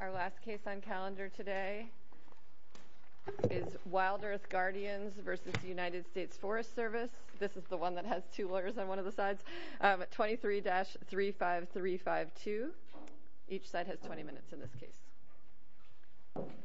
Our last case on calendar today is WildEarth Guardians v. United States Forest Service. This is the one that has two lawyers on one of the sides. 23-35352. Each side has 20 minutes in this case. Thank you.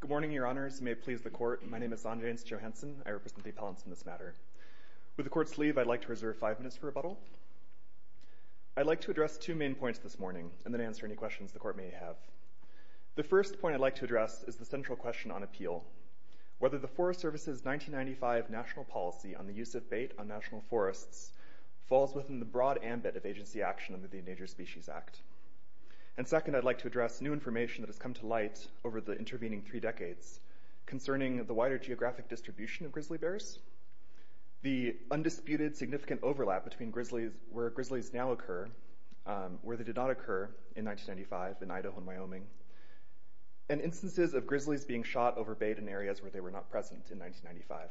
Good morning, Your Honors. May it please the Court. My name is Zondreans Johanson. I represent the appellants in this matter. With the Court's leave, I'd like to reserve five minutes for rebuttal. I'd like to address two main points this morning, and then answer any questions the Court may have. The first point I'd like to address is the central question on appeal. Whether the Forest Service's 1995 national policy on the use of bait on national forests falls within the broad ambit of agency action under the Endangered Species Act. And second, I'd like to address new information that has come to light over the intervening three decades concerning the wider geographic distribution of grizzly bears, the undisputed significant overlap between where grizzlies now occur, where they did not occur in 1995 in Idaho and Wyoming, and instances of grizzlies being shot over bait in areas where they were not present in 1995.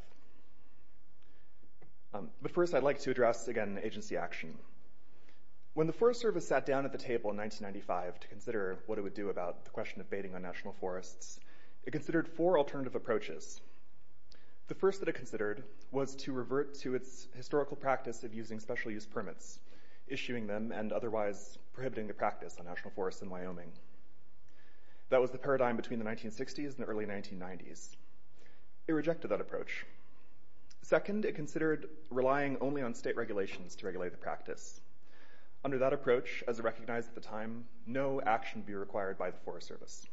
But first, I'd like to address, again, agency action. When the Forest Service sat down at the table in 1995 to consider what it would do about the question of baiting on national forests, it considered four alternative approaches. The first that it considered was to revert to its historical practice of using special use permits, issuing them and otherwise prohibiting the practice on national forests in Wyoming. That was the paradigm between the 1960s and the early 1990s. It rejected that approach. Second, it considered relying only on state regulations to regulate the practice. Under that approach, as it recognized at the time, no action would be required by the Forest Service.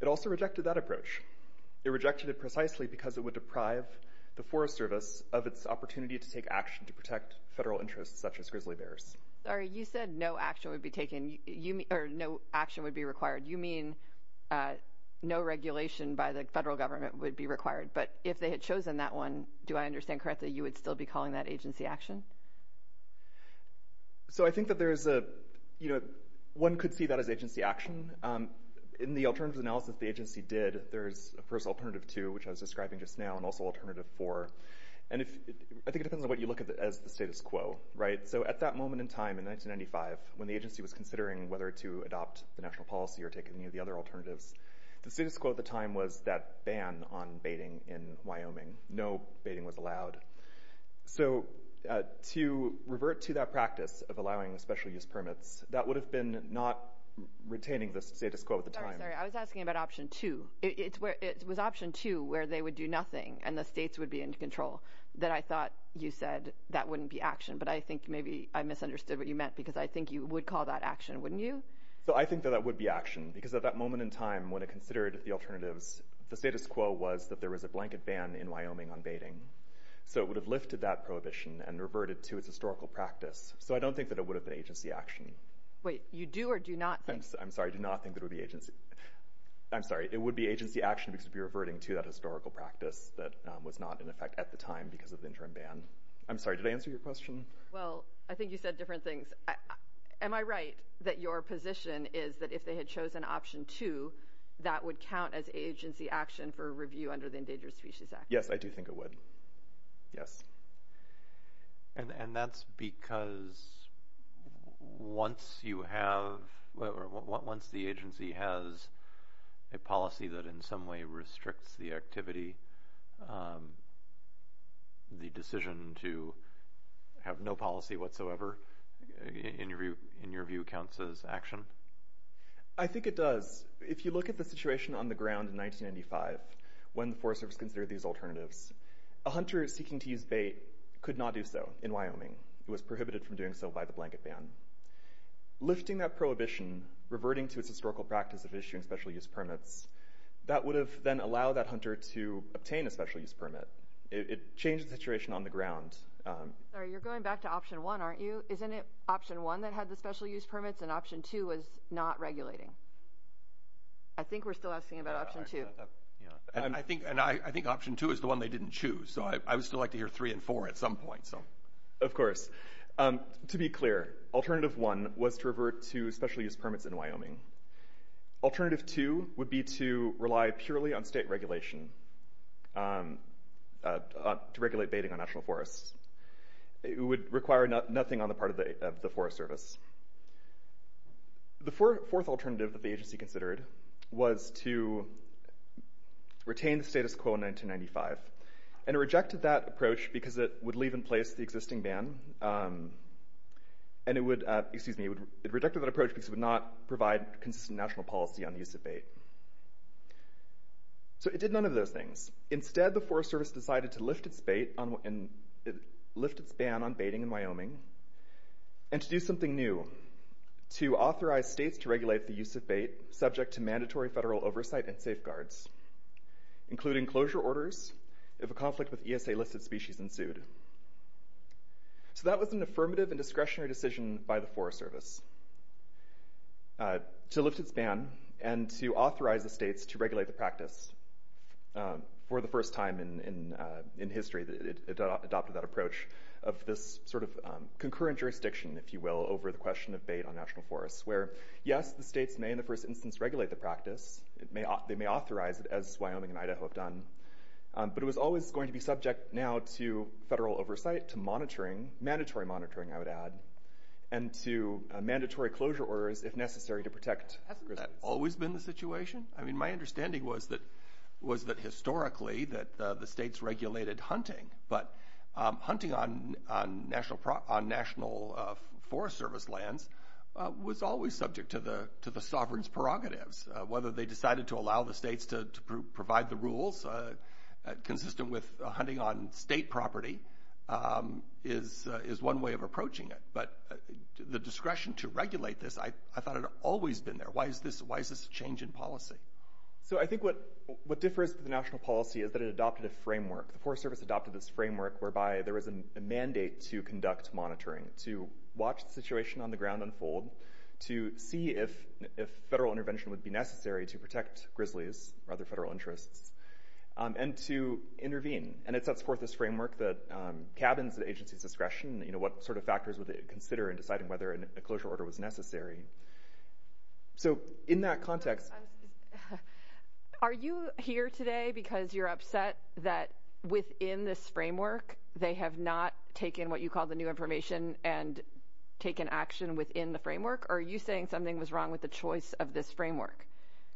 It also rejected that approach. It rejected it precisely because it would deprive the Forest Service of its opportunity to take action to protect federal interests such as grizzly bears. Sorry, you said no action would be taken, or no action would be required. You mean no regulation by the federal government would be required. But if they had chosen that one, do I understand correctly, you would still be calling that agency action? I think that one could see that as agency action. In the alternative analysis the agency did, there's a first alternative two, which I was describing just now, and also alternative four. I think it depends on what you look at as the status quo. At that moment in time, in 1995, when the agency was considering whether to adopt the national policy or take any of the other alternatives, the status quo at the time was that ban on baiting in Wyoming. No baiting was allowed. So to revert to that practice of allowing special use permits, that would have been not retaining the status quo at the time. Sorry, I was asking about option two. It was option two where they would do nothing and the states would be in control that I thought you said that wouldn't be action, but I think maybe I misunderstood what you meant because I think you would call that action, wouldn't you? I think that that would be action because at that moment in time when it considered the alternatives, the status quo was that there was a blanket ban in Wyoming on baiting. So it would have lifted that prohibition and reverted to its historical practice. So I don't think that it would have been agency action. Wait, you do or do not think? I'm sorry, I do not think that it would be agency. I'm sorry, it would be agency action because it would be reverting to that historical practice that was not in effect at the time because of the interim ban. I'm sorry, did I answer your question? Well, I think you said different things. Am I right that your position is that if they had chosen option two, that would count as agency action for review under the Endangered Species Act? Yes, I do think it would. Yes. And that's because once the agency has a policy that in some way restricts the activity, the decision to have no policy whatsoever, in your view, counts as action? I think it does. If you look at the situation on the ground in 1995 when the Forest Service considered these alternatives, a hunter seeking to use bait could not do so in Wyoming. It was prohibited from doing so by the blanket ban. Lifting that prohibition, reverting to its historical practice of issuing special use permits, that would have then allowed that hunter to obtain a special use permit. It changed the situation on the ground. Sorry, you're going back to option one, aren't you? Isn't it option one that had the special use permits and option two was not regulating? I think we're still asking about option two. I think option two is the one they didn't choose, so I would still like to hear three and four at some point. Of course. To be clear, alternative one was to revert to special use permits in Wyoming. Alternative two would be to rely purely on state regulation to regulate baiting on national forests. It would require nothing on the part of the Forest Service. The fourth alternative that the agency considered was to retain the status quo in 1995. It rejected that approach because it would leave in place the existing ban. It rejected that approach because it would not provide consistent national policy on the use of bait. It did none of those things. Instead, the Forest Service decided to lift its ban on baiting in Wyoming and to do something new, to authorize states to regulate the use of bait subject to mandatory federal oversight and safeguards, including closure orders if a conflict with ESA listed species ensued. So that was an affirmative and discretionary decision by the Forest Service to lift its ban and to authorize the states to regulate the practice. For the first time in history, it adopted that approach of this sort of concurrent jurisdiction, if you will, over the question of bait on national forests, where, yes, the states may in the first instance regulate the practice. They may authorize it, as Wyoming and Idaho have done. But it was always going to be subject now to federal oversight, to monitoring, mandatory monitoring, I would add, and to mandatory closure orders, if necessary, to protect. Hasn't that always been the situation? I mean, my understanding was that historically the states regulated hunting, but hunting on National Forest Service lands was always subject to the sovereign's prerogatives. Whether they decided to allow the states to provide the rules consistent with hunting on state property is one way of approaching it. But the discretion to regulate this, I thought, had always been there. Why is this a change in policy? So I think what differs from the national policy is that it adopted a framework. The Forest Service adopted this framework whereby there was a mandate to conduct monitoring, to watch the situation on the ground unfold, to see if federal intervention would be necessary to protect grizzlies or other federal interests, and to intervene. And it sets forth this framework that cabins the agency's discretion, what sort of factors would they consider in deciding whether a closure order was necessary. So in that context— Are you here today because you're upset that within this framework they have not taken what you call the new information and taken action within the framework, or are you saying something was wrong with the choice of this framework?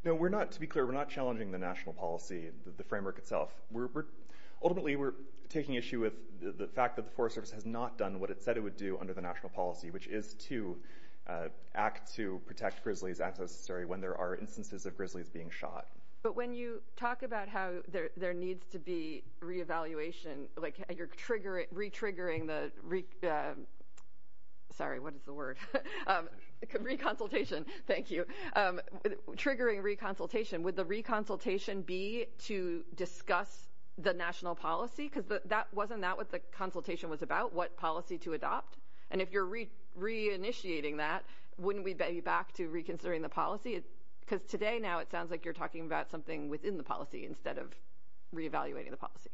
No, to be clear, we're not challenging the national policy, the framework itself. Ultimately, we're taking issue with the fact that the Forest Service has not done what it said it would do under the national policy, which is to act to protect grizzlies as necessary when there are instances of grizzlies being shot. But when you talk about how there needs to be re-evaluation, like you're re-triggering the— Sorry, what is the word? Re-consultation. Thank you. Triggering re-consultation, would the re-consultation be to discuss the national policy? Because wasn't that what the consultation was about, what policy to adopt? And if you're re-initiating that, wouldn't we be back to reconsidering the policy? Because today now it sounds like you're talking about something within the policy instead of re-evaluating the policy.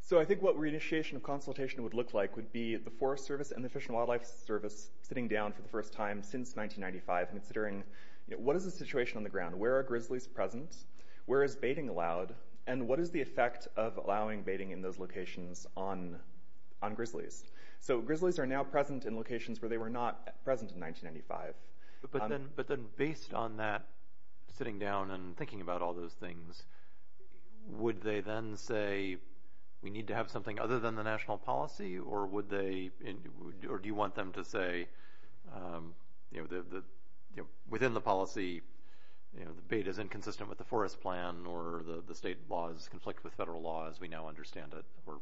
So I think what re-initiation of consultation would look like would be the Forest Service and the Fish and Wildlife Service sitting down for the first time since 1995 and considering what is the situation on the ground? Where are grizzlies present? Where is baiting allowed? And what is the effect of allowing baiting in those locations on grizzlies? So grizzlies are now present in locations where they were not present in 1995. But then based on that sitting down and thinking about all those things, would they then say, we need to have something other than the national policy? Or do you want them to say, within the policy, the bait is inconsistent with the forest plan or the state laws conflict with federal law as we now understand it or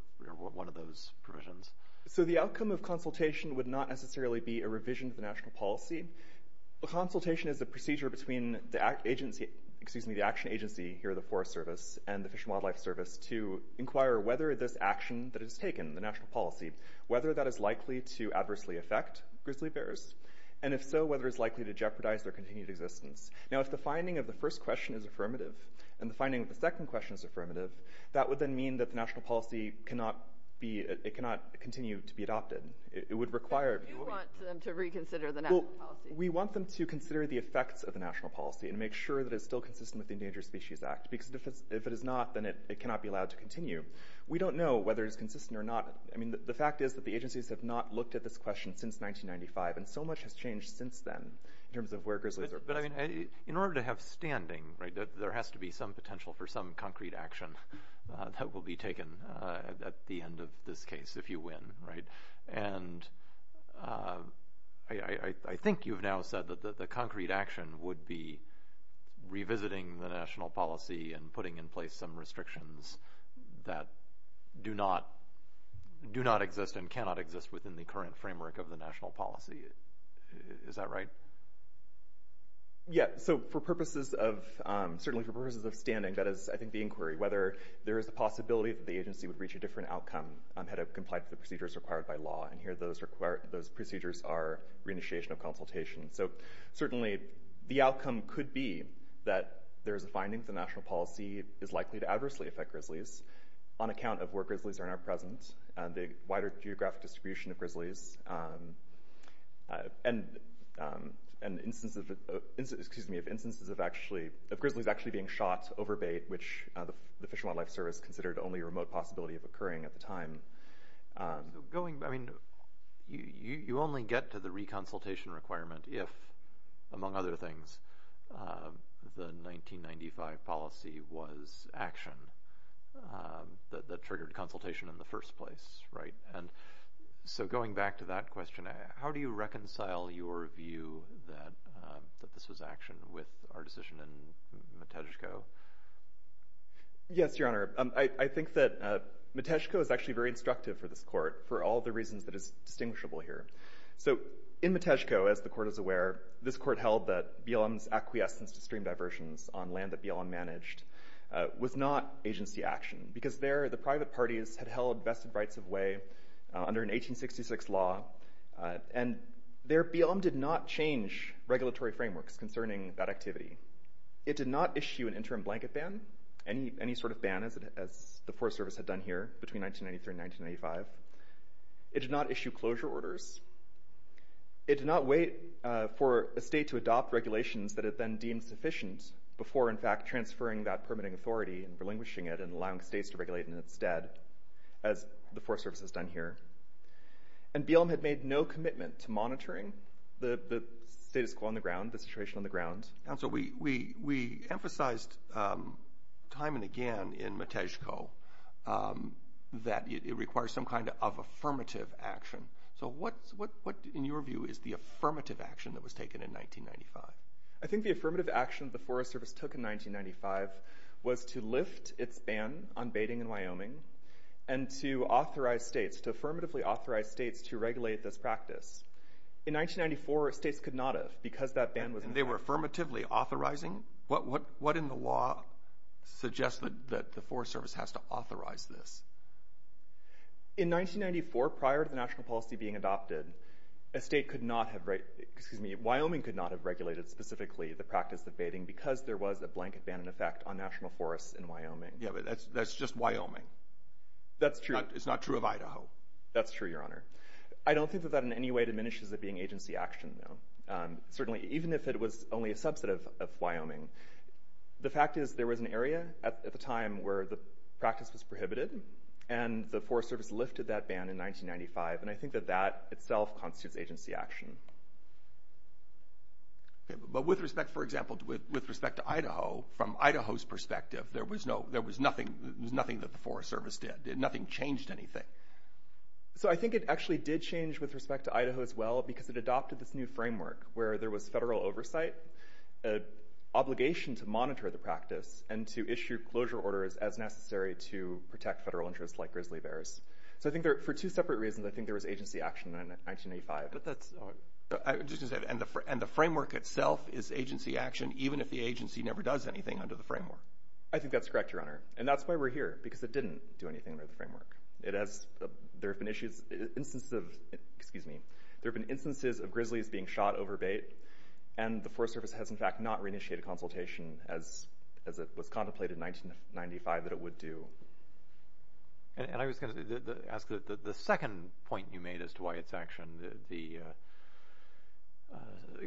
one of those provisions? So the outcome of consultation would not necessarily be a revision of the national policy. A consultation is a procedure between the action agency here at the Forest Service and the Fish and Wildlife Service to inquire whether this action that is taken, the national policy, whether that is likely to adversely affect grizzly bears. And if so, whether it's likely to jeopardize their continued existence. Now if the finding of the first question is affirmative and the finding of the second question is affirmative, Do you want them to reconsider the national policy? We want them to consider the effects of the national policy and make sure that it's still consistent with the Endangered Species Act. Because if it is not, then it cannot be allowed to continue. We don't know whether it's consistent or not. The fact is that the agencies have not looked at this question since 1995 and so much has changed since then in terms of where grizzlies are present. In order to have standing, there has to be some potential for some concrete action that will be taken at the end of this case if you win. Right? And I think you've now said that the concrete action would be revisiting the national policy and putting in place some restrictions that do not exist and cannot exist within the current framework of the national policy. Is that right? Yeah. So for purposes of, certainly for purposes of standing, that is I think the inquiry. Whether there is a possibility that the agency would reach a different outcome had it complied with the procedures required by law. And here those procedures are reinitiation of consultation. So certainly the outcome could be that there is a finding that the national policy is likely to adversely affect grizzlies on account of where grizzlies are now present, the wider geographic distribution of grizzlies, and instances of grizzlies actually being shot over bait, which the Fish and Wildlife Service considered only a remote possibility of occurring at the time. So going, I mean, you only get to the re-consultation requirement if, among other things, the 1995 policy was action that triggered consultation in the first place. Right? And so going back to that question, how do you reconcile your view that this was action with our decision in Matejko? Yes, Your Honor. I think that Matejko is actually very instructive for this court for all the reasons that is distinguishable here. So in Matejko, as the court is aware, this court held that BLM's acquiescence to stream diversions on land that BLM managed was not agency action, because there the private parties had held vested rights of way under an 1866 law, and there BLM did not change regulatory frameworks concerning that activity. It did not issue an interim blanket ban, any sort of ban as the Forest Service had done here between 1993 and 1995. It did not issue closure orders. It did not wait for a state to adopt regulations that it then deemed sufficient before in fact transferring that permitting authority and relinquishing it and allowing states to regulate in its stead, as the Forest Service has done here. And BLM had made no commitment to monitoring the status quo on the ground, the situation on the ground. Counsel, we emphasized time and again in Matejko that it requires some kind of affirmative action. So what, in your view, is the affirmative action that was taken in 1995? I think the affirmative action the Forest Service took in 1995 was to lift its ban on baiting in Wyoming and to authorize states, to affirmatively authorize states to regulate this practice. In 1994, states could not have, because that ban was in effect. And they were affirmatively authorizing? What in the law suggests that the Forest Service has to authorize this? In 1994, prior to the national policy being adopted, Wyoming could not have regulated specifically the practice of baiting because there was a blanket ban in effect on national forests in Wyoming. Yeah, but that's just Wyoming. That's true. It's not true of Idaho. That's true, Your Honor. I don't think that that in any way diminishes it being agency action, though. Certainly, even if it was only a subset of Wyoming. The fact is there was an area at the time where the practice was prohibited, and the Forest Service lifted that ban in 1995, and I think that that itself constitutes agency action. But with respect, for example, with respect to Idaho, from Idaho's perspective, there was nothing that the Forest Service did. Nothing changed anything. So I think it actually did change with respect to Idaho as well because it adopted this new framework where there was federal oversight, an obligation to monitor the practice, and to issue closure orders as necessary to protect federal interests like grizzly bears. So I think for two separate reasons, I think there was agency action in 1985. And the framework itself is agency action, even if the agency never does anything under the framework. I think that's correct, Your Honor, and that's why we're here, because it didn't do anything under the framework. There have been instances of grizzlies being shot over bait, and the Forest Service has, in fact, not re-initiated consultation as it was contemplated in 1995 that it would do. And I was going to ask, the second point you made as to why it's action, the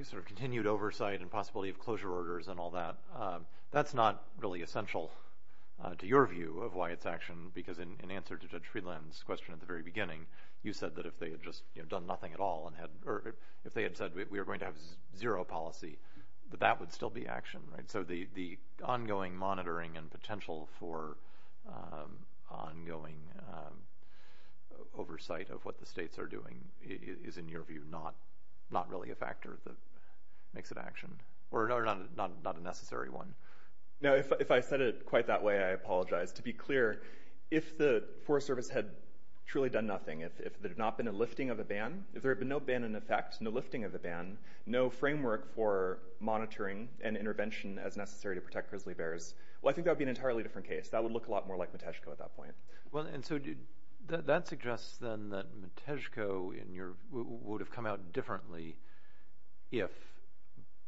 sort of continued oversight and possibility of closure orders and all that, that's not really essential to your view of why it's action, because in answer to Judge Friedland's question at the very beginning, you said that if they had just done nothing at all, or if they had said we were going to have zero policy, that that would still be action, right? So the ongoing monitoring and potential for ongoing oversight of what the states are doing is, in your view, not really a factor that makes it action, or not a necessary one. No, if I said it quite that way, I apologize. To be clear, if the Forest Service had truly done nothing, if there had not been a lifting of a ban, if there had been no ban in effect, no lifting of a ban, no framework for monitoring and intervention as necessary to protect grizzly bears, well, I think that would be an entirely different case. That would look a lot more like Matejko at that point. Well, and so that suggests then that Matejko would have come out differently if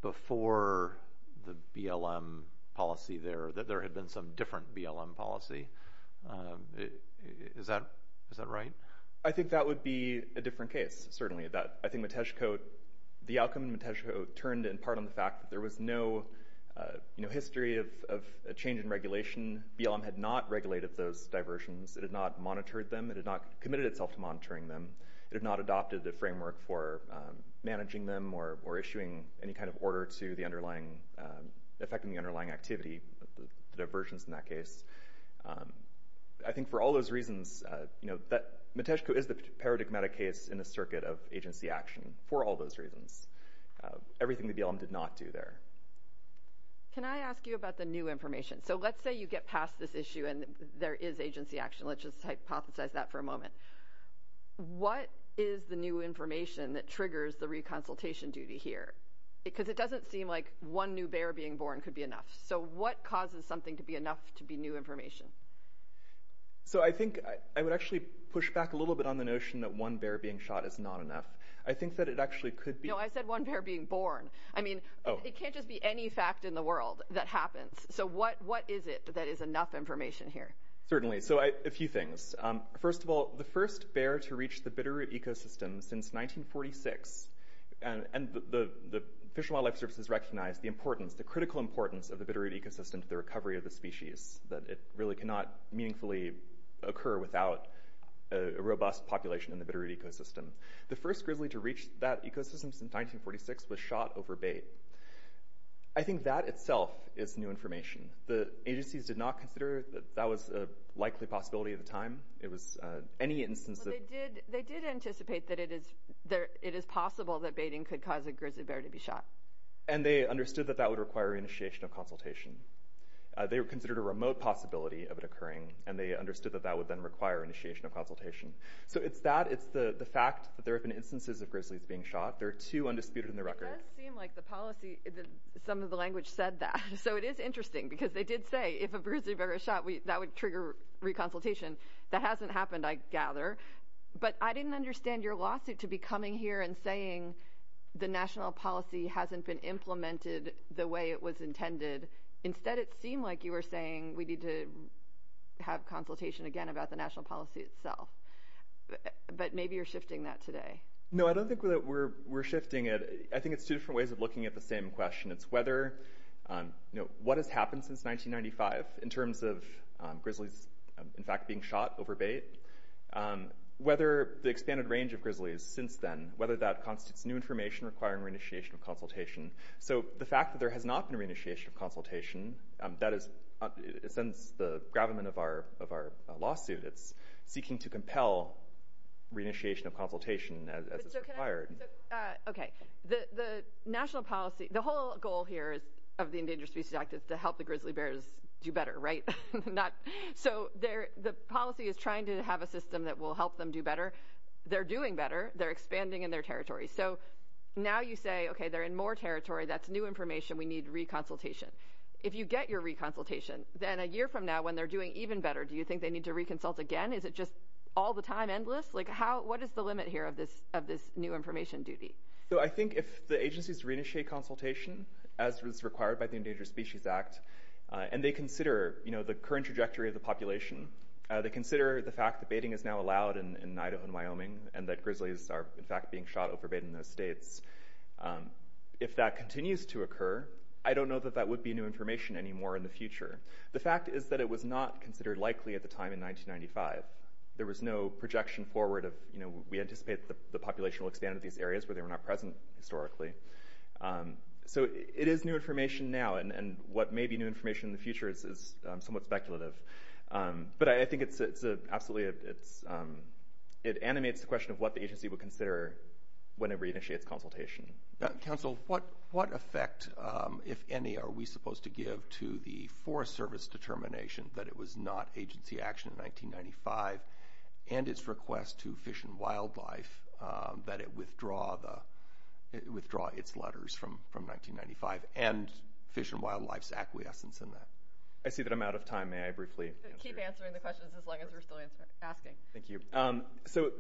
before the BLM policy there, that there had been some different BLM policy. Is that right? I think that would be a different case, certainly. I think Matejko, the outcome in Matejko turned in part on the fact that there was no history of a change in regulation. BLM had not regulated those diversions. It had not monitored them. It had not committed itself to monitoring them. It had not adopted the framework for managing them or issuing any kind of order to effecting the underlying activity, the diversions in that case. I think for all those reasons, Matejko is the paradigmatic case in the circuit of agency action, for all those reasons, everything the BLM did not do there. Can I ask you about the new information? So let's say you get past this issue and there is agency action. Let's just hypothesize that for a moment. What is the new information that triggers the reconsultation duty here? Because it doesn't seem like one new bear being born could be enough. So what causes something to be enough to be new information? So I think I would actually push back a little bit on the notion that one bear being shot is not enough. I think that it actually could be. No, I said one bear being born. I mean, it can't just be any fact in the world that happens. So what is it that is enough information here? Certainly. So a few things. First of all, the first bear to reach the Bitterroot Ecosystem since 1946, and the Fish and Wildlife Service has recognized the importance, the critical importance of the Bitterroot Ecosystem to the recovery of the species, that it really cannot meaningfully occur without a robust population in the Bitterroot Ecosystem. The first grizzly to reach that ecosystem since 1946 was shot over bait. I think that itself is new information. The agencies did not consider that that was a likely possibility at the time. It was any instance of... Well, they did anticipate that it is possible that baiting could cause a grizzly bear to be shot. And they understood that that would require initiation of consultation. They considered a remote possibility of it occurring, and they understood that that would then require initiation of consultation. So it's that. It's the fact that there have been instances of grizzlies being shot. There are two undisputed in the record. It does seem like the policy, some of the language said that. So it is interesting, because they did say, if a grizzly bear is shot, that would trigger reconsultation. That hasn't happened, I gather. But I didn't understand your lawsuit to be coming here and saying the national policy hasn't been implemented the way it was intended. Instead, it seemed like you were saying we need to have consultation again about the national policy itself. But maybe you're shifting that today. No, I don't think that we're shifting it. I think it's two different ways of looking at the same question. It's whether what has happened since 1995 in terms of grizzlies, in fact, being shot over bait, whether the expanded range of grizzlies since then, whether that constitutes new information requiring re-initiation of consultation. So the fact that there has not been re-initiation of consultation, that is, in a sense, the gravamen of our lawsuit. It's seeking to compel re-initiation of consultation as it's required. Okay. The whole goal here of the Endangered Species Act is to help the grizzly bears do better, right? So the policy is trying to have a system that will help them do better. They're doing better. They're expanding in their territory. So now you say, okay, they're in more territory. That's new information. We need re-consultation. If you get your re-consultation, then a year from now when they're doing even better, do you think they need to re-consult again? Is it just all the time, endless? What is the limit here of this new information duty? I think if the agencies re-initiate consultation, as was required by the Endangered Species Act, and they consider the current trajectory of the population, they consider the fact that baiting is now allowed in Idaho and Wyoming and that grizzlies are, in fact, being shot over bait in those states, if that continues to occur, I don't know that that would be new information anymore in the future. The fact is that it was not considered likely at the time in 1995. There was no projection forward of, you know, we anticipate the population will expand to these areas where they were not present historically. So it is new information now, and what may be new information in the future is somewhat speculative. But I think it's absolutely a... It animates the question of what the agency would consider when it re-initiates consultation. Council, what effect, if any, are we supposed to give to the Forest Service determination that it was not agency action in 1995 and its request to Fish and Wildlife that it withdraw its letters from 1995 and Fish and Wildlife's acquiescence in that? I see that I'm out of time. May I briefly answer? Keep answering the questions as long as we're still asking. Thank you. So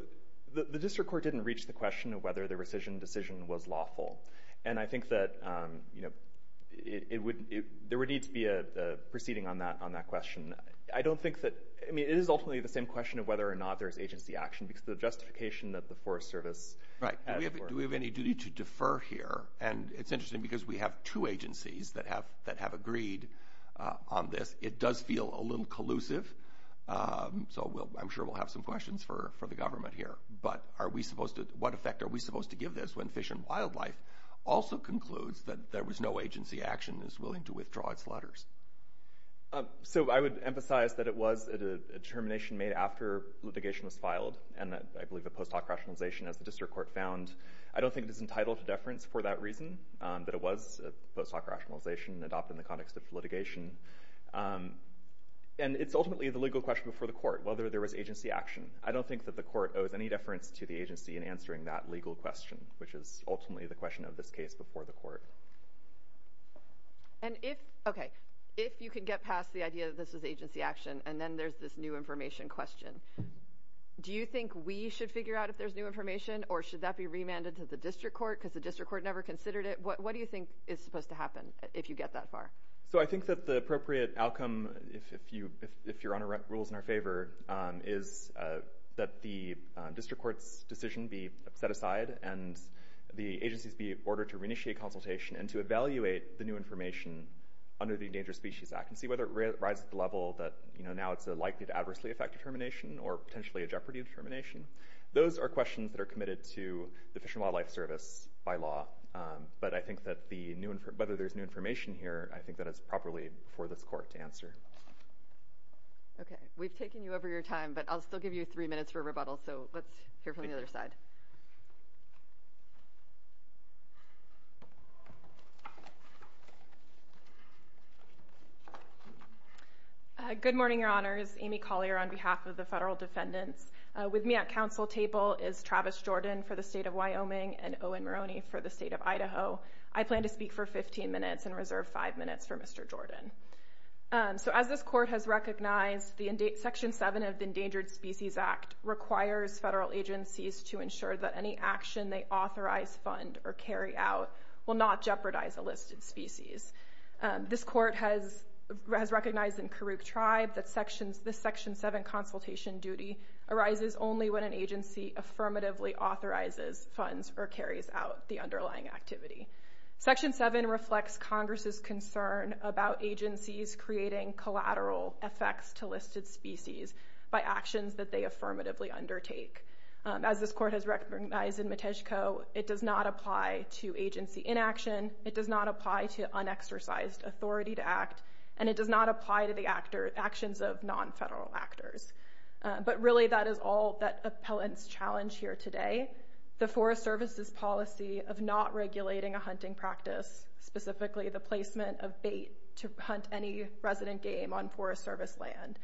the district court didn't reach the question of whether the rescission decision was lawful, and I think that, you know, there would need to be a proceeding on that question. I don't think that... I mean, it is ultimately the same question of whether or not there's agency action because of the justification that the Forest Service... Right. Do we have any duty to defer here? And it's interesting because we have two agencies that have agreed on this. It does feel a little collusive, so I'm sure we'll have some questions for the government here. But what effect are we supposed to give this when Fish and Wildlife also concludes that there was no agency action and is willing to withdraw its letters? So I would emphasize that it was a determination made after litigation was filed and that I believe the post hoc rationalization, as the district court found, I don't think it is entitled to deference for that reason, that it was a post hoc rationalization adopted in the context of litigation. And it's ultimately the legal question before the court, whether there was agency action. I don't think that the court owes any deference to the agency in answering that legal question, which is ultimately the question of this case before the court. And if, okay, if you can get past the idea that this was agency action and then there's this new information question, do you think we should figure out if there's new information or should that be remanded to the district court because the district court never considered it? What do you think is supposed to happen if you get that far? So I think that the appropriate outcome, if your Honor rules in our favor, is that the district court's decision be set aside and the agencies be ordered to re-initiate consultation and to evaluate the new information under the Endangered Species Act and see whether it rises to the level that now it's likely to adversely affect determination or potentially a jeopardy of determination. Those are questions that are committed to the Fish and Wildlife Service by law. But I think that whether there's new information here, I think that it's properly before this court to answer. Okay, we've taken you over your time, but I'll still give you three minutes for rebuttal, so let's hear from the other side. Good morning, Your Honors. Amy Collier on behalf of the federal defendants. With me at council table is Travis Jordan for the state of Wyoming and Owen Maroney for the state of Idaho. I plan to speak for 15 minutes and reserve five minutes for Mr. Jordan. So as this court has recognized, Section 7 of the Endangered Species Act requires federal agencies to ensure that any action they authorize, fund, or carry out will not jeopardize a listed species. This court has recognized in Karuk Tribe that this Section 7 consultation duty arises only when an agency affirmatively authorizes, funds, or carries out the underlying activity. Section 7 reflects Congress's concern about agencies creating collateral effects to listed species by actions that they affirmatively undertake. As this court has recognized in Matejko, it does not apply to agency inaction, it does not apply to unexercised authority to act, and it does not apply to the actions of nonfederal actors. But really, that is all that appellants challenge here today, the Forest Service's policy of not regulating a hunting practice, specifically the placement of bait to hunt any resident game on Forest Service land,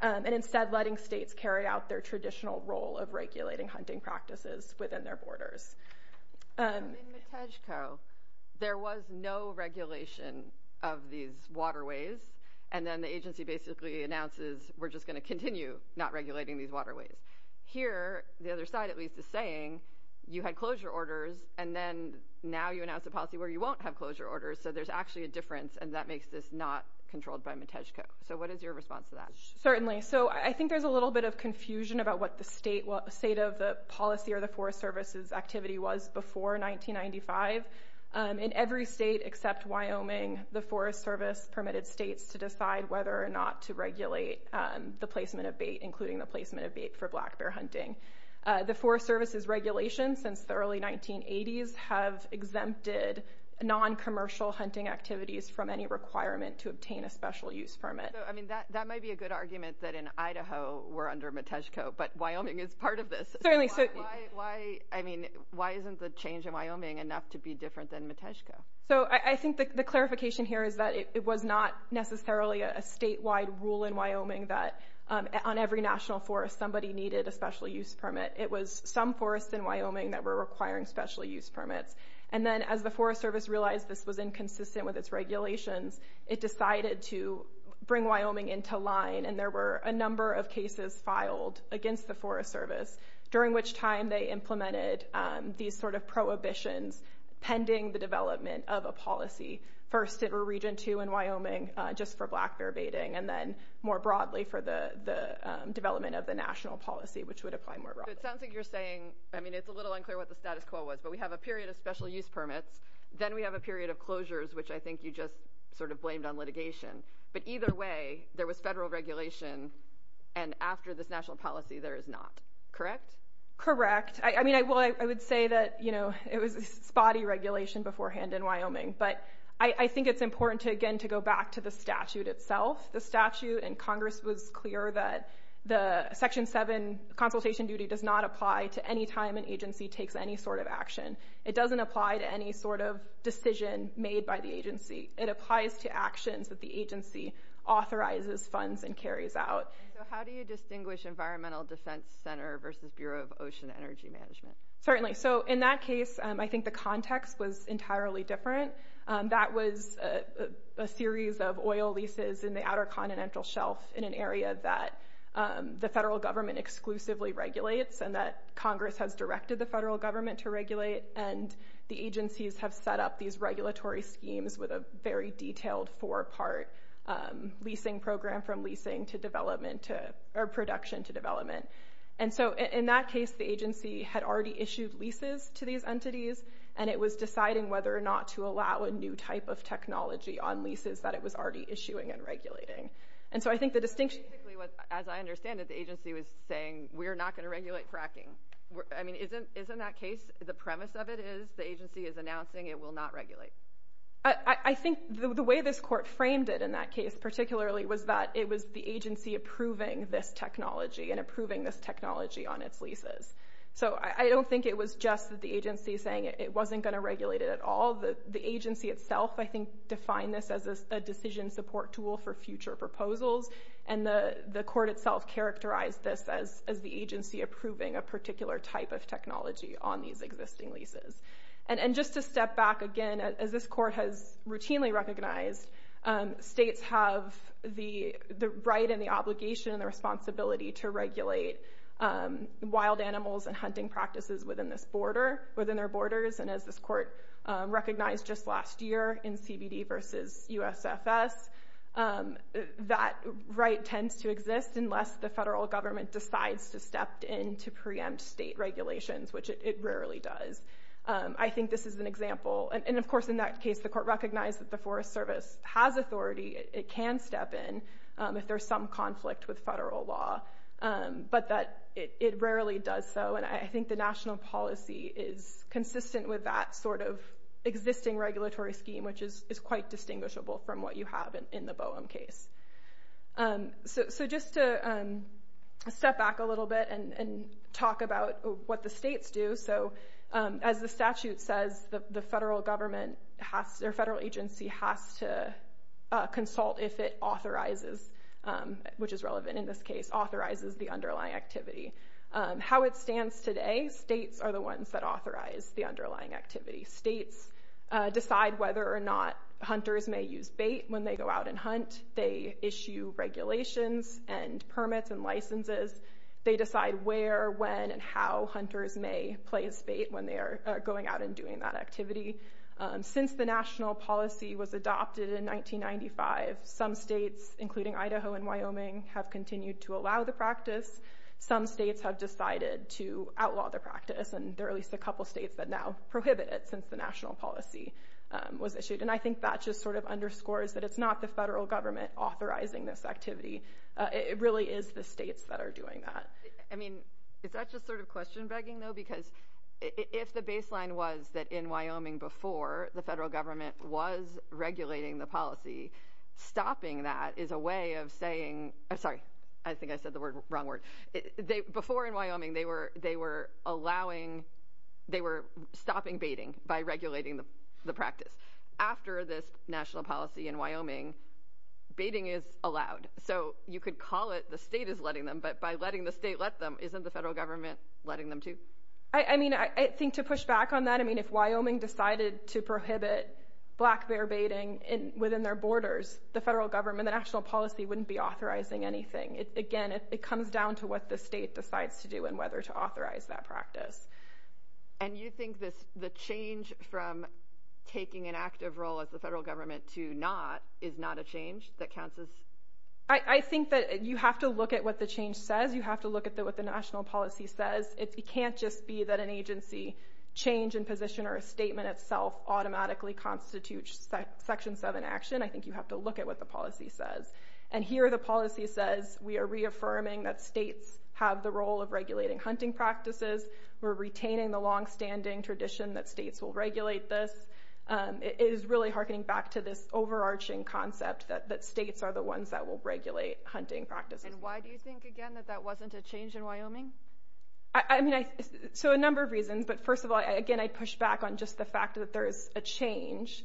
and instead letting states carry out their traditional role of regulating hunting practices within their borders. In Matejko, there was no regulation of these waterways, and then the agency basically announces, we're just going to continue not regulating these waterways. Here, the other side at least is saying, you had closure orders, and then now you announce a policy where you won't have closure orders, so there's actually a difference, and that makes this not controlled by Matejko. What is your response to that? Certainly. I think there's a little bit of confusion about what the state of the policy or the Forest Service's activity was before 1995. In every state except Wyoming, the Forest Service permitted states to decide whether or not to regulate the placement of bait, including the placement of bait for black bear hunting. The Forest Service's regulations since the early 1980s have exempted non-commercial hunting activities from any requirement to obtain a special use permit. That might be a good argument that in Idaho, we're under Matejko, but Wyoming is part of this. Certainly. Why isn't the change in Wyoming enough to be different than Matejko? I think the clarification here is that it was not necessarily a statewide rule in Wyoming somebody needed a special use permit. It was some forests in Wyoming that were requiring special use permits. And then as the Forest Service realized this was inconsistent with its regulations, it decided to bring Wyoming into line and there were a number of cases filed against the Forest Service, during which time they implemented these sort of prohibitions pending the development of a policy. First, it was Region 2 in Wyoming just for black bear baiting and then more broadly for the development of the national policy, which would apply more broadly. It sounds like you're saying, I mean, it's a little unclear what the status quo was, but we have a period of special use permits. Then we have a period of closures, which I think you just sort of blamed on litigation. But either way, there was federal regulation and after this national policy, there is not. Correct? Correct. I mean, I would say that, you know, it was a spotty regulation beforehand in Wyoming, but I think it's important to, again, to go back to the statute itself. The statute in Congress was clear that the Section 7 consultation duty does not apply to any time an agency takes any sort of action. It doesn't apply to any sort of decision made by the agency. It applies to actions that the agency authorizes funds and carries out. So how do you distinguish Environmental Defense Center versus Bureau of Ocean Energy Management? Certainly. So in that case, I think the context was entirely different. That was a series of oil leases in the Outer Continental Shelf in an area that the federal government exclusively regulates and that Congress has directed the federal government to regulate and the agencies have set up these regulatory schemes with a very detailed four-part leasing program from leasing to development or production to development. And so in that case, the agency had already issued leases to these entities and it was deciding whether or not to allow a new type of technology on leases that it was already issuing and regulating. And so I think the distinction... Basically, as I understand it, the agency was saying, we're not going to regulate fracking. Isn't that case, the premise of it is the agency is announcing it will not regulate? I think the way this court framed it in that case particularly was that it was the agency approving this technology and approving this technology on its leases. So I don't think it was just the agency saying it wasn't going to regulate it at all. The agency itself, I think, defined this as a decision support tool for future proposals and the court itself characterized this as the agency approving a particular type of technology on these existing leases. And just to step back again, as this court has routinely recognized, states have the right and the obligation and the responsibility to regulate wild animals and hunting practices within their borders. And as this court recognized just last year in CBD versus USFS, that right tends to exist unless the federal government decides to step in to preempt state regulations, which it rarely does. I think this is an example. And of course, in that case, the court recognized that the Forest Service has authority, it can step in if there's some conflict with federal law, but that it rarely does so. And I think the national policy is consistent with that sort of existing regulatory scheme, which is quite distinguishable from what you have in the BOEM case. So just to step back a little bit and talk about what the states do. So as the statute says, the federal government has, or federal agency has to consult if it authorizes, which is relevant in this case, authorizes the underlying activity. How it stands today, states are the ones that authorize the underlying activity. States decide whether or not hunters may use bait when they go out and hunt. They issue regulations and permits and licenses. They decide where, when, and how hunters may play as bait when they are going out and doing that activity. Since the national policy was adopted in 1995, some states, including Idaho and Wyoming, have continued to allow the practice. Some states have decided to outlaw the practice, and there are at least a couple states that now prohibit it since the national policy was issued. And I think that just sort of underscores that it's not the federal government authorizing this activity. It really is the states that are doing that. I mean, is that just sort of question begging though? Because if the baseline was that in Wyoming before the federal government was regulating the policy, stopping that is a way of saying, I'm sorry, I think I said the wrong word. Before in Wyoming, they were allowing, they were stopping baiting by regulating the practice. After this national policy in Wyoming, baiting is allowed. So you could call it the state is letting them, but by letting the state let them, isn't the federal government letting them too? I mean, I think to push back on that, I mean, if Wyoming decided to prohibit black bear baiting within their borders, the federal government, the national policy wouldn't be authorizing anything. Again, it comes down to what the state decides to do and whether to authorize that practice. And you think the change from taking an active role as the federal government to not is not a change that counts as? I think that you have to look at what the change says. You have to look at what the national policy says. It can't just be that an agency change in position or a statement itself automatically constitutes section seven action. I think you have to look at what the policy says. And here the policy says we are reaffirming that states have the role of regulating hunting practices. We're retaining the longstanding tradition that states will regulate this. It is really hearkening back to this overarching concept that states are the ones that will regulate hunting practices. And why do you think, again, that that wasn't a change in Wyoming? I mean, so a number of reasons. But first of all, again, I'd push back on just the fact that there is a change.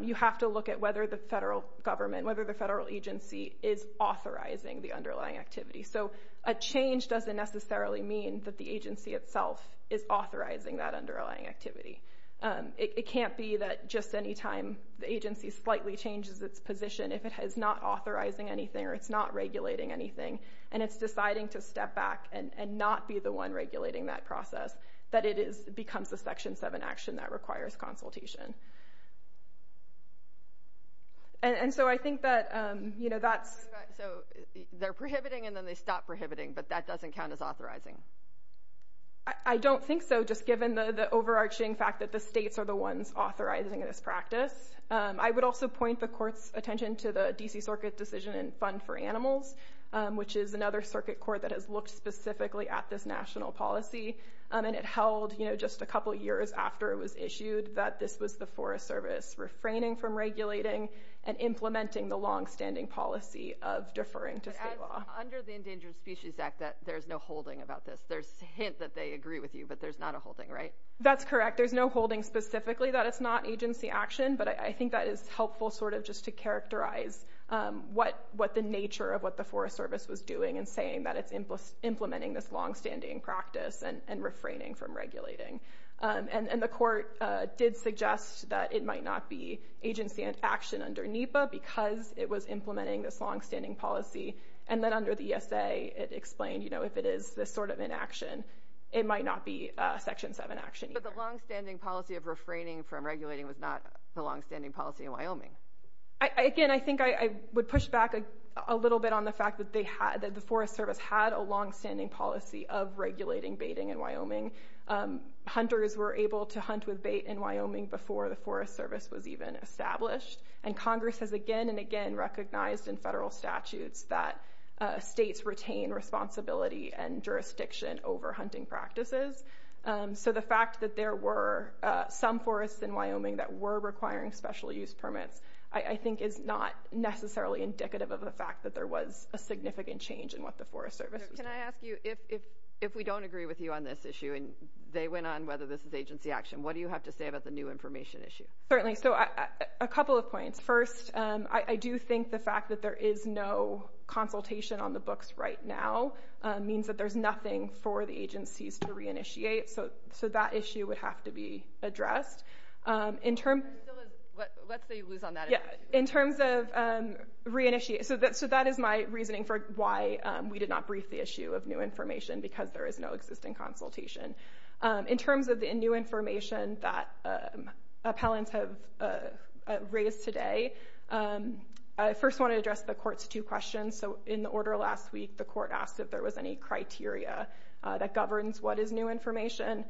You have to look at whether the federal government, whether the federal agency is authorizing the underlying activity. So a change doesn't necessarily mean that the agency itself is authorizing that underlying activity. It can't be that just any time the agency slightly changes its position, if it is not authorizing anything or it's not regulating anything, and it's deciding to step back and not be the one regulating that process, that it becomes a section seven action that requires consultation. And so I think that, you know, that's... I mean, they stop prohibiting, but that doesn't count as authorizing. I don't think so, just given the overarching fact that the states are the ones authorizing this practice. I would also point the court's attention to the D.C. Circuit Decision and Fund for Animals, which is another circuit court that has looked specifically at this national policy. And it held, you know, just a couple years after it was issued that this was the Forest Service refraining from regulating and implementing the longstanding policy of deferring to state law. Under the Endangered Species Act, there's no holding about this. There's a hint that they agree with you, but there's not a holding, right? That's correct. There's no holding specifically that it's not agency action, but I think that is helpful, sort of, just to characterize what the nature of what the Forest Service was doing in saying that it's implementing this longstanding practice and refraining from regulating. And the court did suggest that it might not be agency action under NEPA because it was implementing this longstanding policy. And then under the ESA, it explained, you know, if it is this sort of inaction, it might not be Section 7 action either. But the longstanding policy of refraining from regulating was not the longstanding policy in Wyoming. Again, I think I would push back a little bit on the fact that the Forest Service had a longstanding policy of regulating baiting in Wyoming. Hunters were able to hunt with bait in Wyoming before the Forest Service was even established. And Congress has again and again recognized in federal statutes that states retain responsibility and jurisdiction over hunting practices. So the fact that there were some forests in Wyoming that were requiring special use permits, I think, is not necessarily indicative of the fact that there was a significant change in what the Forest Service was doing. Can I ask you, if we don't agree with you on this issue and they went on whether this is agency action, what do you have to say about the new information issue? Certainly. So a couple of points. First, I do think the fact that there is no consultation on the books right now means that there's nothing for the agencies to re-initiate. So that issue would have to be addressed. Let's say you lose on that. In terms of re-initiate, so that is my reasoning for why we did not brief the issue of new information because there is no existing consultation. In terms of the new information that appellants have raised today, I first want to address the Court's two questions. So in the order last week, the Court asked if there was any criteria that governs what is new information.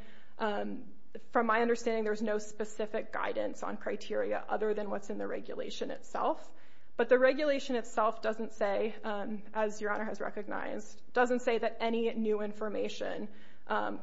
From my understanding, there's no specific guidance on criteria other than what's in the regulation itself. But the regulation itself doesn't say, as Your Honor has recognized, doesn't say that any new information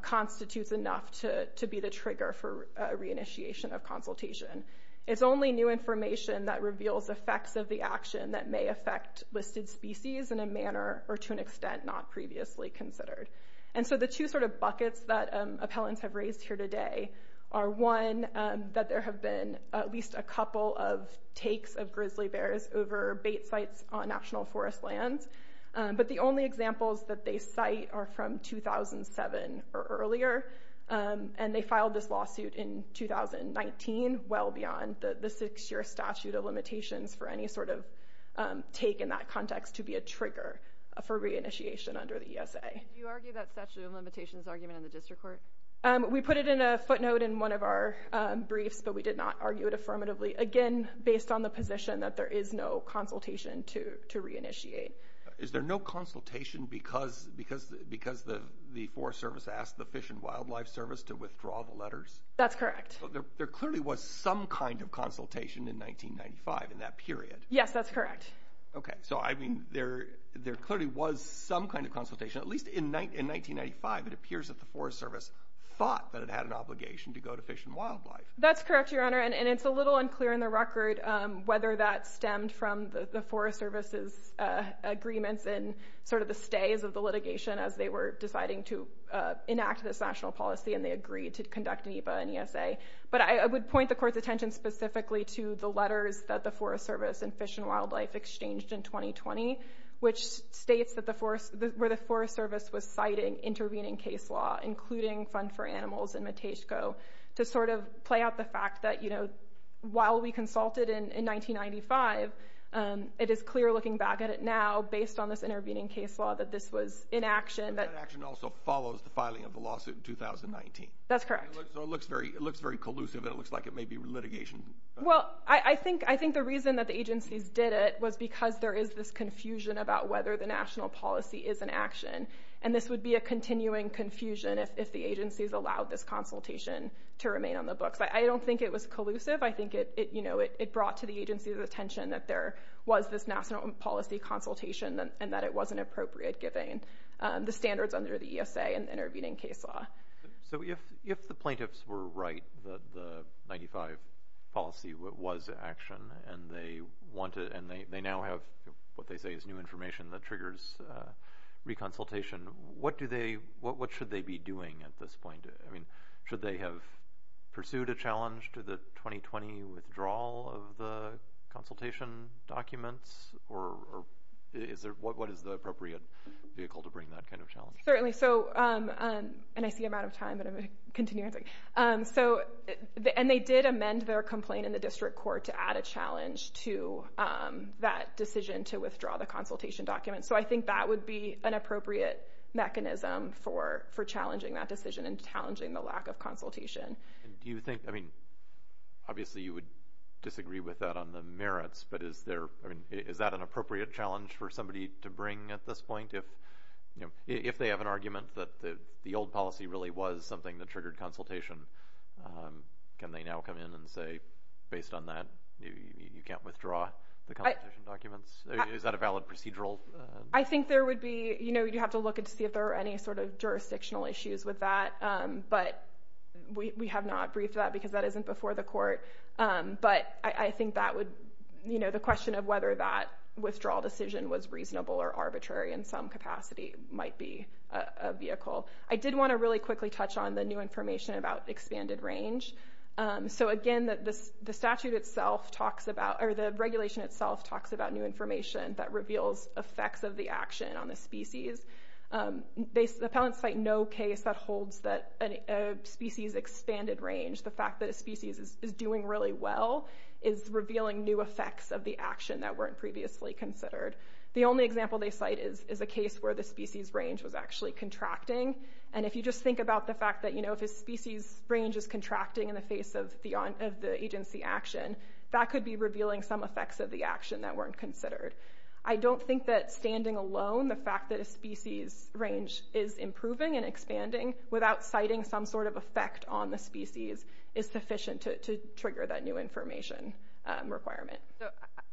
constitutes enough to be the trigger for re-initiation of consultation. It's only new information that reveals effects of the action that may affect listed species in a manner or to an extent not previously considered. And so the two sort of buckets that appellants have raised here today are one, that there have been at least a couple of takes of grizzly bears over bait sites on national forest lands. But the only examples that they cite are from 2007 or earlier. And they filed this lawsuit in 2019, well beyond the six-year statute of limitations for any sort of take in that context to be a trigger for re-initiation under the ESA. Do you argue that statute of limitations argument in the District Court? We put it in a footnote in one of our briefs, but we did not argue it affirmatively. Again, based on the position that there is no consultation to re-initiate. Is there no consultation because the Forest Service asked the Fish and Wildlife Service to withdraw the letters? That's correct. There clearly was some kind of consultation in 1995 in that period. Yes, that's correct. Okay, so I mean, there clearly was some kind of consultation. At least in 1995, it appears that the Forest Service thought that it had an obligation to go to Fish and Wildlife. That's correct, Your Honor, and it's a little unclear in the record whether that stemmed from the Forest Service's agreements and sort of the stays of the litigation as they were deciding to enact this national policy and they agreed to conduct an EBA and ESA. But I would point the Court's attention specifically to the letters that the Forest Service and Fish and Wildlife exchanged in 2020, which states where the Forest Service was citing intervening case law, including Fund for Animals and Matejko, to sort of play out the fact that, you know, while we consulted in 1995, it is clear looking back at it now, based on this intervening case law, that this was inaction. That inaction also follows the filing of the lawsuit in 2019. That's correct. So it looks very collusive and it looks like it may be litigation. Well, I think the reason that the agencies did it was because there is this confusion about whether the national policy is in action, and this would be a continuing confusion if the agencies allowed this consultation to remain on the books. I don't think it was collusive. I think it, you know, it brought to the agency's attention that there was this national policy consultation and that it wasn't appropriate giving the standards under the ESA and the intervening case law. So if the plaintiffs were right that the 95 policy was in action and they now have what they say is new information that triggers reconsultation, what should they be doing at this point? I mean, should they have pursued a challenge to the 2020 withdrawal of the consultation documents? Or is there, what is the appropriate vehicle to bring that kind of challenge? Certainly. So, and I see I'm out of time, but I'm going to continue answering. So, and they did amend their complaint in the district court to add a challenge to that decision to withdraw the consultation document. for challenging that decision and challenging the lack of consultation. Do you think, I mean, obviously you would disagree with that on the merits, but is there, I mean, is that an appropriate challenge for somebody to bring at this point? If, you know, if they have an argument that the old policy really was something that triggered consultation, can they now come in and say, based on that you can't withdraw the consultation documents? Is that a valid procedural? I think there would be, you know, you have to look and see if there are any sort of jurisdictional issues with that. But we have not briefed that because that isn't before the court. But I think that would, you know, the question of whether that withdrawal decision was reasonable or arbitrary in some capacity might be a vehicle. I did want to really quickly touch on the new information about expanded range. So again, the statute itself talks about, or the regulation itself talks about new information that reveals effects of the action on the species. Appellants cite no case that holds that a species expanded range. The fact that a species is doing really well is revealing new effects of the action that weren't previously considered. The only example they cite is a case where the species range was actually contracting. And if you just think about the fact that, you know, if a species range is contracting in the face of the agency action, that could be revealing some effects of the action that weren't considered. I don't think that standing alone, the fact that a species range is improving and expanding without citing some sort of effect on the species is sufficient to trigger that new information requirement. So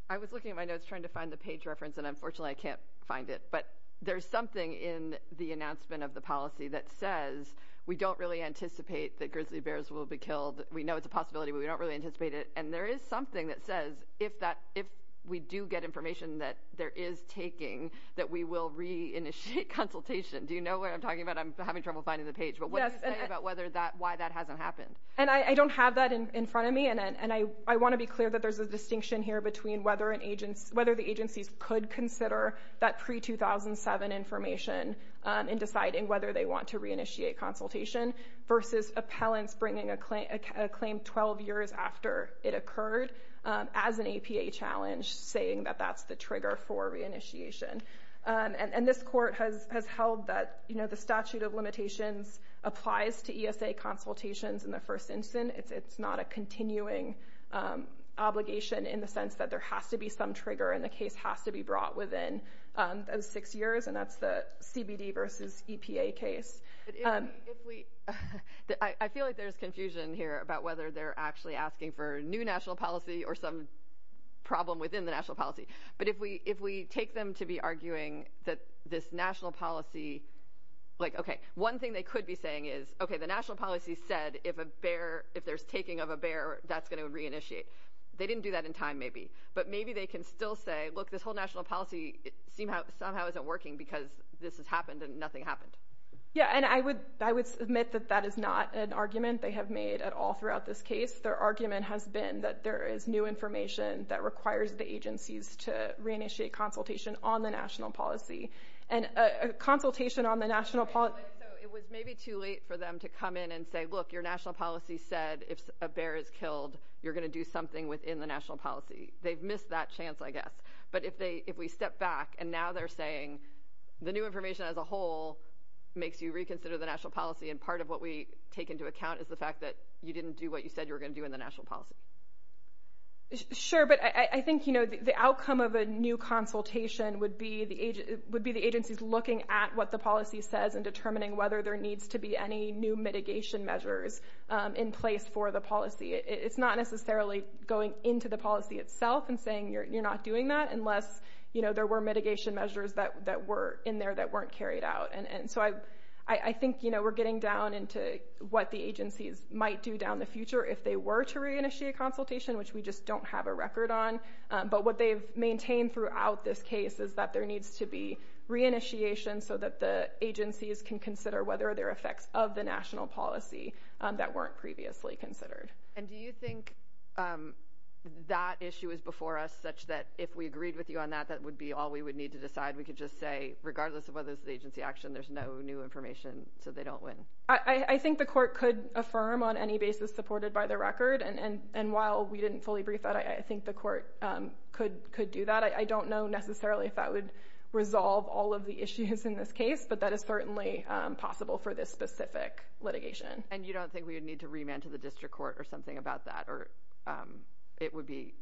I was looking at my notes trying to find the page reference, and unfortunately I can't find it. But there's something in the announcement of the policy that says we don't really anticipate that grizzly bears will be killed. We know it's a possibility, but we don't really anticipate it. And there is something that says if we do get information that there is taking, that we will re-initiate consultation. Do you know what I'm talking about? I'm having trouble finding the page. But what does it say about why that hasn't happened? And I don't have that in front of me, and I want to be clear that there's a distinction here between whether the agencies could consider that pre-2007 information in deciding whether they want to re-initiate consultation versus appellants bringing a claim 12 years after it occurred as an APA challenge, saying that that's the trigger for re-initiation. And this court has held that the statute of limitations applies to ESA consultations in the first instance. It's not a continuing obligation in the sense that there has to be some trigger, and the case has to be brought within those six years, and that's the CBD versus EPA case. But if we... I feel like there's confusion here about whether they're actually asking for new national policy or some problem within the national policy. But if we take them to be arguing that this national policy... Like, okay, one thing they could be saying is, okay, the national policy said, if there's taking of a bear, that's going to re-initiate. They didn't do that in time, maybe. But maybe they can still say, look, this whole national policy somehow isn't working because this has happened and nothing happened. Yeah, and I would submit that that is not an argument they have made at all throughout this case. Their argument has been that there is new information that requires the agencies to re-initiate consultation on the national policy. And a consultation on the national policy... So it was maybe too late for them to come in and say, look, your national policy said if a bear is killed, you're going to do something within the national policy. They've missed that chance, I guess. But if we step back and now they're saying the new information as a whole makes you reconsider the national policy, and part of what we take into account is the fact that you didn't do what you said you were going to do in the national policy. Sure, but I think the outcome of a new consultation would be the agencies looking at what the policy says and determining whether there needs to be any new mitigation measures in place for the policy. It's not necessarily going into the policy itself and saying you're not doing that unless there were mitigation measures that were in there that weren't carried out. I think we're getting down into what the agencies might do down the future if they were to re-initiate a consultation, which we just don't have a record on. But what they've maintained throughout this case is that there needs to be re-initiation so that the agencies can consider whether there are effects of the national policy that weren't previously considered. And do you think that issue is before us such that if we agreed with you on that, that would be all we would need to decide? We could just say, regardless of whether it's agency action, there's no new information, so they don't win. I think the court could affirm on any basis supported by the record. And while we didn't fully brief that, I think the court could do that. I don't know necessarily if that would resolve all of the issues in this case, but that is certainly possible for this specific litigation. And you don't think we would need to remand to the district court or something about that, or it would be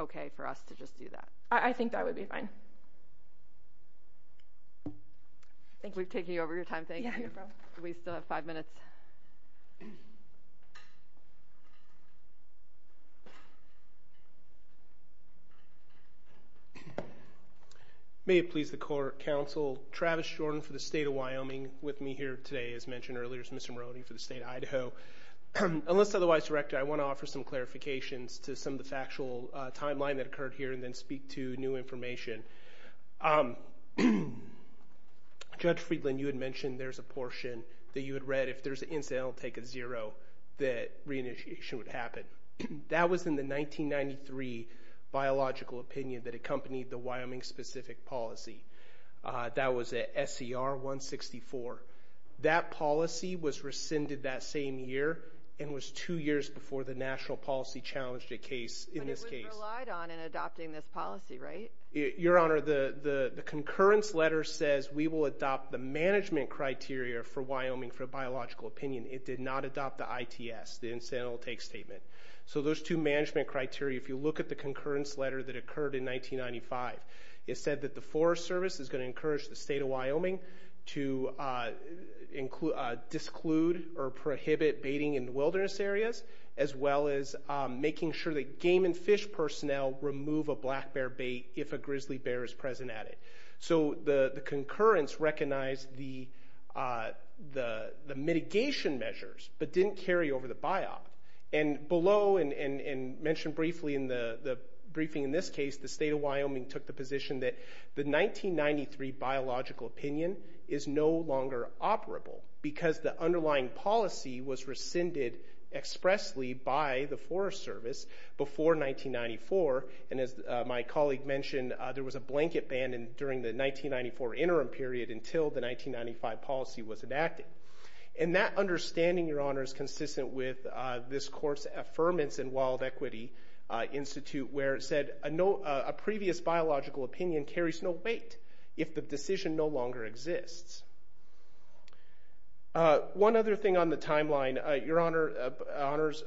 okay for us to just do that? I think that would be fine. I think we're taking over your time. We still have five minutes. May it please the court, Counsel Travis Jordan for the state of Wyoming with me here today, as mentioned earlier, as Mr. Moroney for the state of Idaho. Unless otherwise directed, I want to offer some clarifications to some of the factual timeline that occurred here and then speak to new information. Judge Friedland, you had mentioned there's a portion that you had read. If there's an incident, I'll take a zero, that reinitiation would happen. That was in the 1993 biological opinion that accompanied the Wyoming-specific policy. That was at SCR 164. That policy was rescinded that same year and was two years before the national policy challenged a case in this case. You relied on and adopting this policy, right? Your Honor, the concurrence letter says we will adopt the management criteria for Wyoming for a biological opinion. It did not adopt the ITS, the incidental take statement. So those two management criteria, if you look at the concurrence letter that occurred in 1995, it said that the Forest Service is going to encourage the state of Wyoming to disclude or prohibit baiting in wilderness areas as well as making sure that game and fish personnel remove a black bear bait if a grizzly bear is present at it. So the concurrence recognized the mitigation measures but didn't carry over the biop. And below, and mentioned briefly in the briefing in this case, the state of Wyoming took the position that the 1993 biological opinion is no longer operable because the underlying policy was rescinded expressly by the Forest Service before 1994. And as my colleague mentioned, there was a blanket ban during the 1994 interim period until the 1995 policy was enacted. And that understanding, Your Honor, is consistent with this court's affirmance in Wild Equity Institute where it said a previous biological opinion carries no weight if the decision no longer exists. One other thing on the timeline, Your Honor,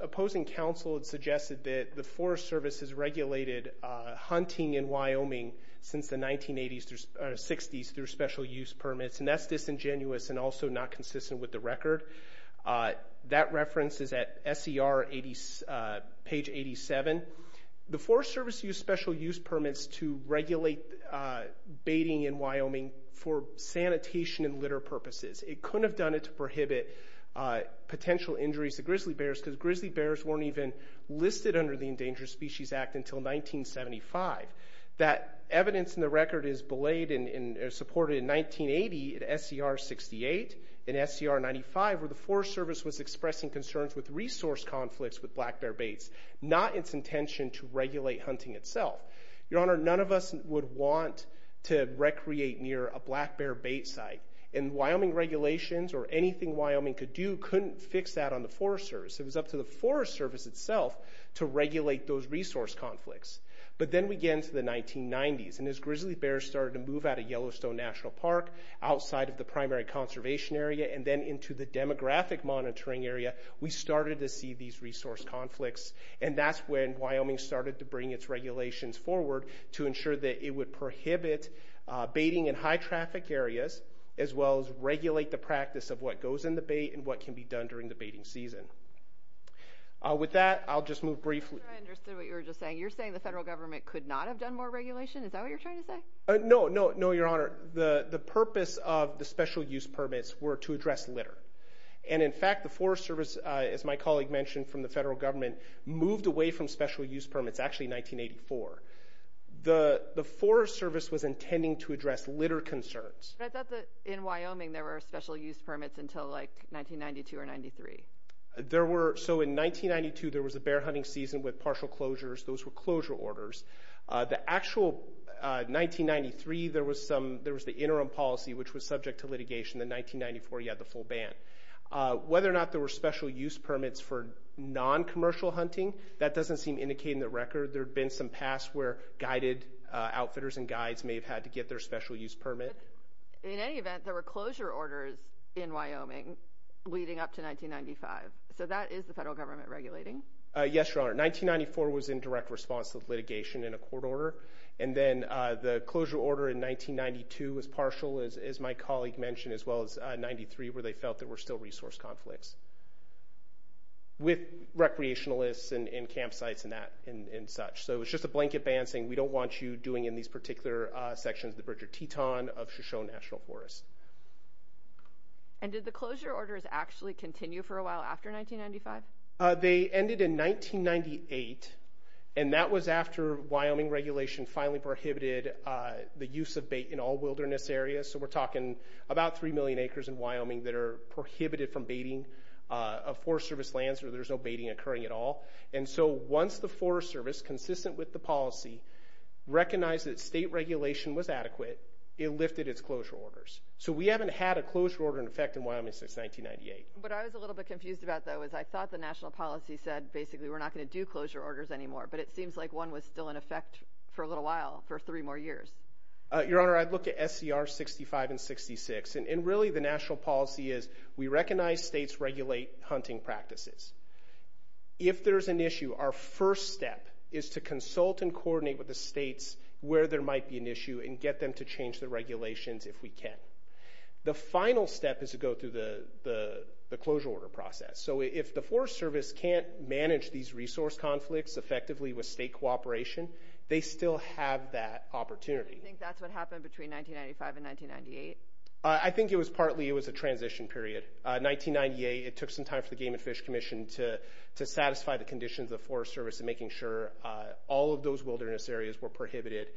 opposing counsel had suggested that the Forest Service has regulated hunting in Wyoming since the 1960s through special use permits, and that's disingenuous and also not consistent with the record. That reference is at SER page 87. The Forest Service used special use permits to regulate baiting in Wyoming for sanitation and litter purposes. It couldn't have done it to prohibit potential injuries to grizzly bears because grizzly bears weren't even listed under the Endangered Species Act until 1975. That evidence in the record is belayed and supported in 1980 at SER 68 and SER 95 where the Forest Service was expressing concerns with resource conflicts with black bear baits, not its intention to regulate hunting itself. Your Honor, none of us would want to recreate near a black bear bait site, and Wyoming regulations or anything Wyoming could do couldn't fix that on the Forest Service. It was up to the Forest Service itself to regulate those resource conflicts. But then we get into the 1990s, and as grizzly bears started to move out of Yellowstone National Park outside of the primary conservation area and then into the demographic monitoring area, we started to see these resource conflicts, and that's when Wyoming started to bring its regulations forward to ensure that it would prohibit baiting in high-traffic areas as well as regulate the practice of what goes in the bait and what can be done during the baiting season. With that, I'll just move briefly... I'm not sure I understood what you were just saying. You're saying the federal government could not have done more regulation? Is that what you're trying to say? No, no, no, Your Honor. The purpose of the special use permits were to address litter. And in fact, the Forest Service, as my colleague mentioned, from the federal government, moved away from special use permits actually in 1984. The Forest Service was intending to address litter concerns. But I thought that in Wyoming there were special use permits until, like, 1992 or 1993. So in 1992, there was a bear hunting season with partial closures. Those were closure orders. The actual 1993, there was the interim policy, which was subject to litigation. In 1994, you had the full ban. Whether or not there were special use permits for non-commercial hunting, that doesn't seem indicated in the record. There have been some past where guided outfitters and guides may have had to get their special use permit. But in any event, there were closure orders in Wyoming leading up to 1995. So that is the federal government regulating? Yes, Your Honor. 1994 was in direct response to litigation in a court order. And then the closure order in 1992 was partial, as my colleague mentioned, as well as 1993, where they felt there were still resource conflicts with recreationalists and campsites and such. So it was just a blanket ban saying, we don't want you doing in these particular sections the Bridger-Teton of Shoshone National Forest. And did the closure orders actually continue for a while after 1995? They ended in 1998, and that was after Wyoming regulation finally prohibited the use of bait in all wilderness areas. So we're talking about 3 million acres in Wyoming that are prohibited from baiting of Forest Service lands where there's no baiting occurring at all. And so once the Forest Service, consistent with the policy, recognized that state regulation was adequate, it lifted its closure orders. So we haven't had a closure order in effect in Wyoming since 1998. What I was a little bit confused about, though, is I thought the national policy said, basically, we're not going to do closure orders anymore. But it seems like one was still in effect for a little while, for three more years. Your Honor, I'd look at SCR 65 and 66. And really the national policy is, we recognize states regulate hunting practices. If there's an issue, our first step is to consult and coordinate with the states where there might be an issue and get them to change the regulations if we can. The final step is to go through the closure order process. So if the Forest Service can't manage these resource conflicts effectively with state cooperation, they still have that opportunity. Do you think that's what happened between 1995 and 1998? I think it was partly a transition period. 1998, it took some time for the Game and Fish Commission to satisfy the conditions of the Forest Service in making sure all of those wilderness areas were prohibited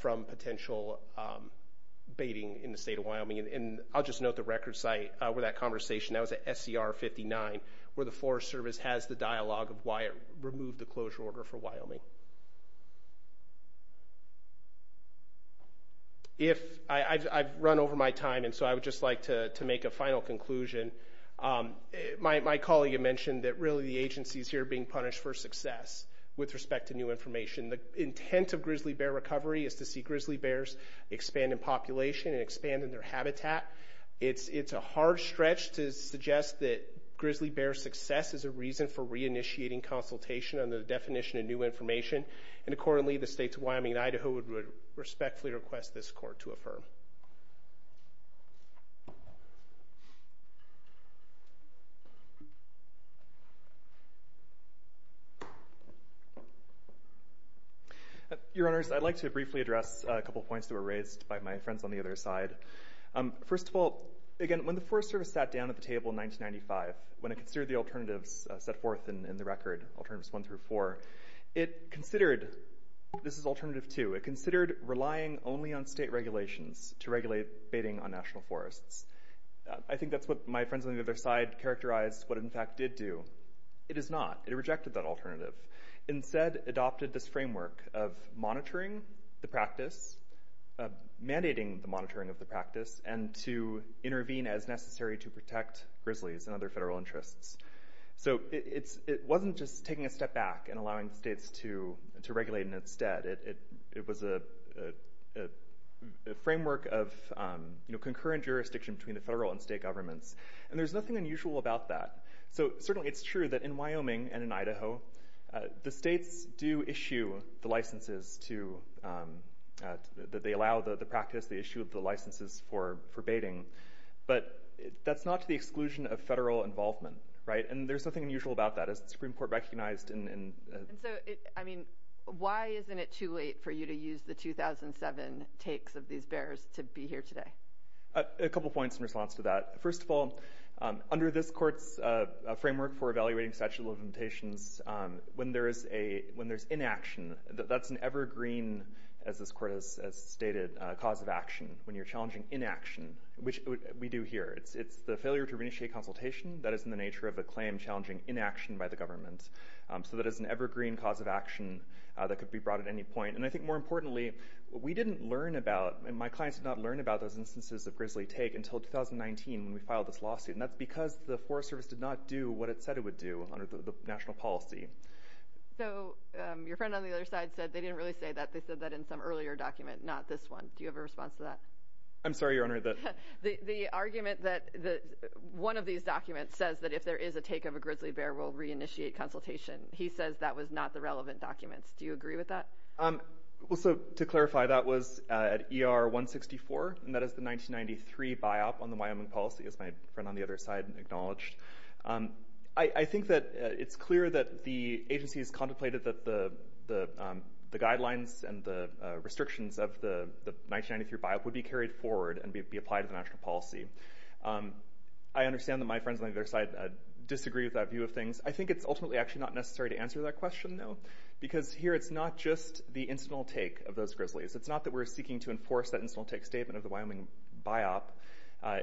from potential baiting in the state of Wyoming. And I'll just note the record site where that conversation, that was at SCR 59, where the Forest Service has the dialogue of why it removed the closure order for Wyoming. I've run over my time, and so I would just like to make a final conclusion. My colleague had mentioned that really the agency is here being punished for success with respect to new information. The intent of grizzly bear recovery is to see grizzly bears expand in population and expand in their habitat. It's a hard stretch to suggest that grizzly bear success is a reason for reinitiating consultation under the definition of new information. And accordingly, the states of Wyoming and Idaho would respectfully request this court to affirm. Your Honors, I'd like to briefly address a couple of points that were raised by my friends on the other side. First of all, again, when the Forest Service sat down at the table in 1995, when it considered the alternatives set forth in the record, Alternatives 1 through 4, it considered this is Alternative 2. It considered relying only on state regulations to regulate baiting on national forests. I think that's what my friends on the other side characterized what it in fact did do. It is not. It rejected that alternative. Instead, it adopted this framework of monitoring the practice, mandating the monitoring of the practice, and to intervene as necessary to protect grizzlies and other federal interests. So it wasn't just taking a step back and allowing states to regulate in its stead. It was a framework of concurrent jurisdiction between the federal and state governments. And there's nothing unusual about that. So certainly it's true that in Wyoming and in Idaho, the states do issue the licenses to allow the practice. They issue the licenses for baiting. But that's not to the exclusion of federal involvement. And there's nothing unusual about that. As the Supreme Court recognized in... And so, I mean, why isn't it too late for you to use the 2007 takes of these bears to be here today? A couple points in response to that. First of all, under this court's framework for evaluating statutes of limitations, when there's inaction, that's an evergreen, as this court has stated, cause of action when you're challenging inaction, which we do here. It's the failure to initiate consultation that is in the nature of a claim challenging inaction by the government. So that is an evergreen cause of action that could be brought at any point. And I think more importantly, we didn't learn about, and my clients did not learn about those instances of grizzly take until 2019 when we filed this lawsuit. And that's because the Forest Service did not do what it said it would do under the national policy. So your friend on the other side said they didn't really say that. They said that in some earlier document, not this one. Do you have a response to that? I'm sorry, Your Honor. The argument that one of these documents says that if there is a take of a grizzly bear, we'll reinitiate consultation. He says that was not the relevant documents. Do you agree with that? To clarify, that was at ER 164, and that is the 1993 biop on the Wyoming policy, as my friend on the other side acknowledged. I think that it's clear that the agency has contemplated that the guidelines and the restrictions of the 1993 biop would be carried forward and be applied to the national policy. I understand that my friends on the other side disagree with that view of things. I think it's ultimately actually not necessary to answer that question, though, because here it's not just the incidental take of those grizzlies. It's not that we're seeking to enforce that incidental take statement of the Wyoming biop.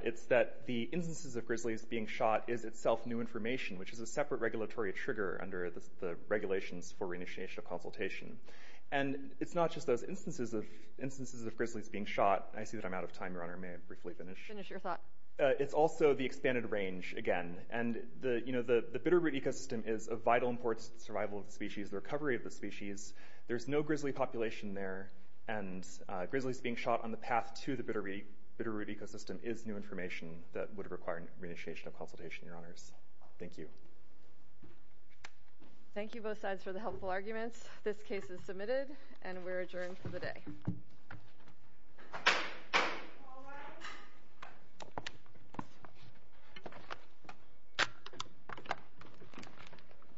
It's that the instances of grizzlies being shot is itself new information, which is a separate regulatory trigger under the regulations for reinitiation of consultation. And it's not just those instances of grizzlies being shot. I see that I'm out of time, Your Honor. May I briefly finish? Finish your thought. It's also the expanded range again. And the bitterroot ecosystem is a vital important survival of the species, the recovery of the species. There's no grizzly population there, and grizzlies being shot on the path to the bitterroot ecosystem is new information that would require reinitiation of consultation, Your Honors. Thank you. Thank you, both sides, for the helpful arguments. This case is submitted, and we're adjourned for the day. All rise.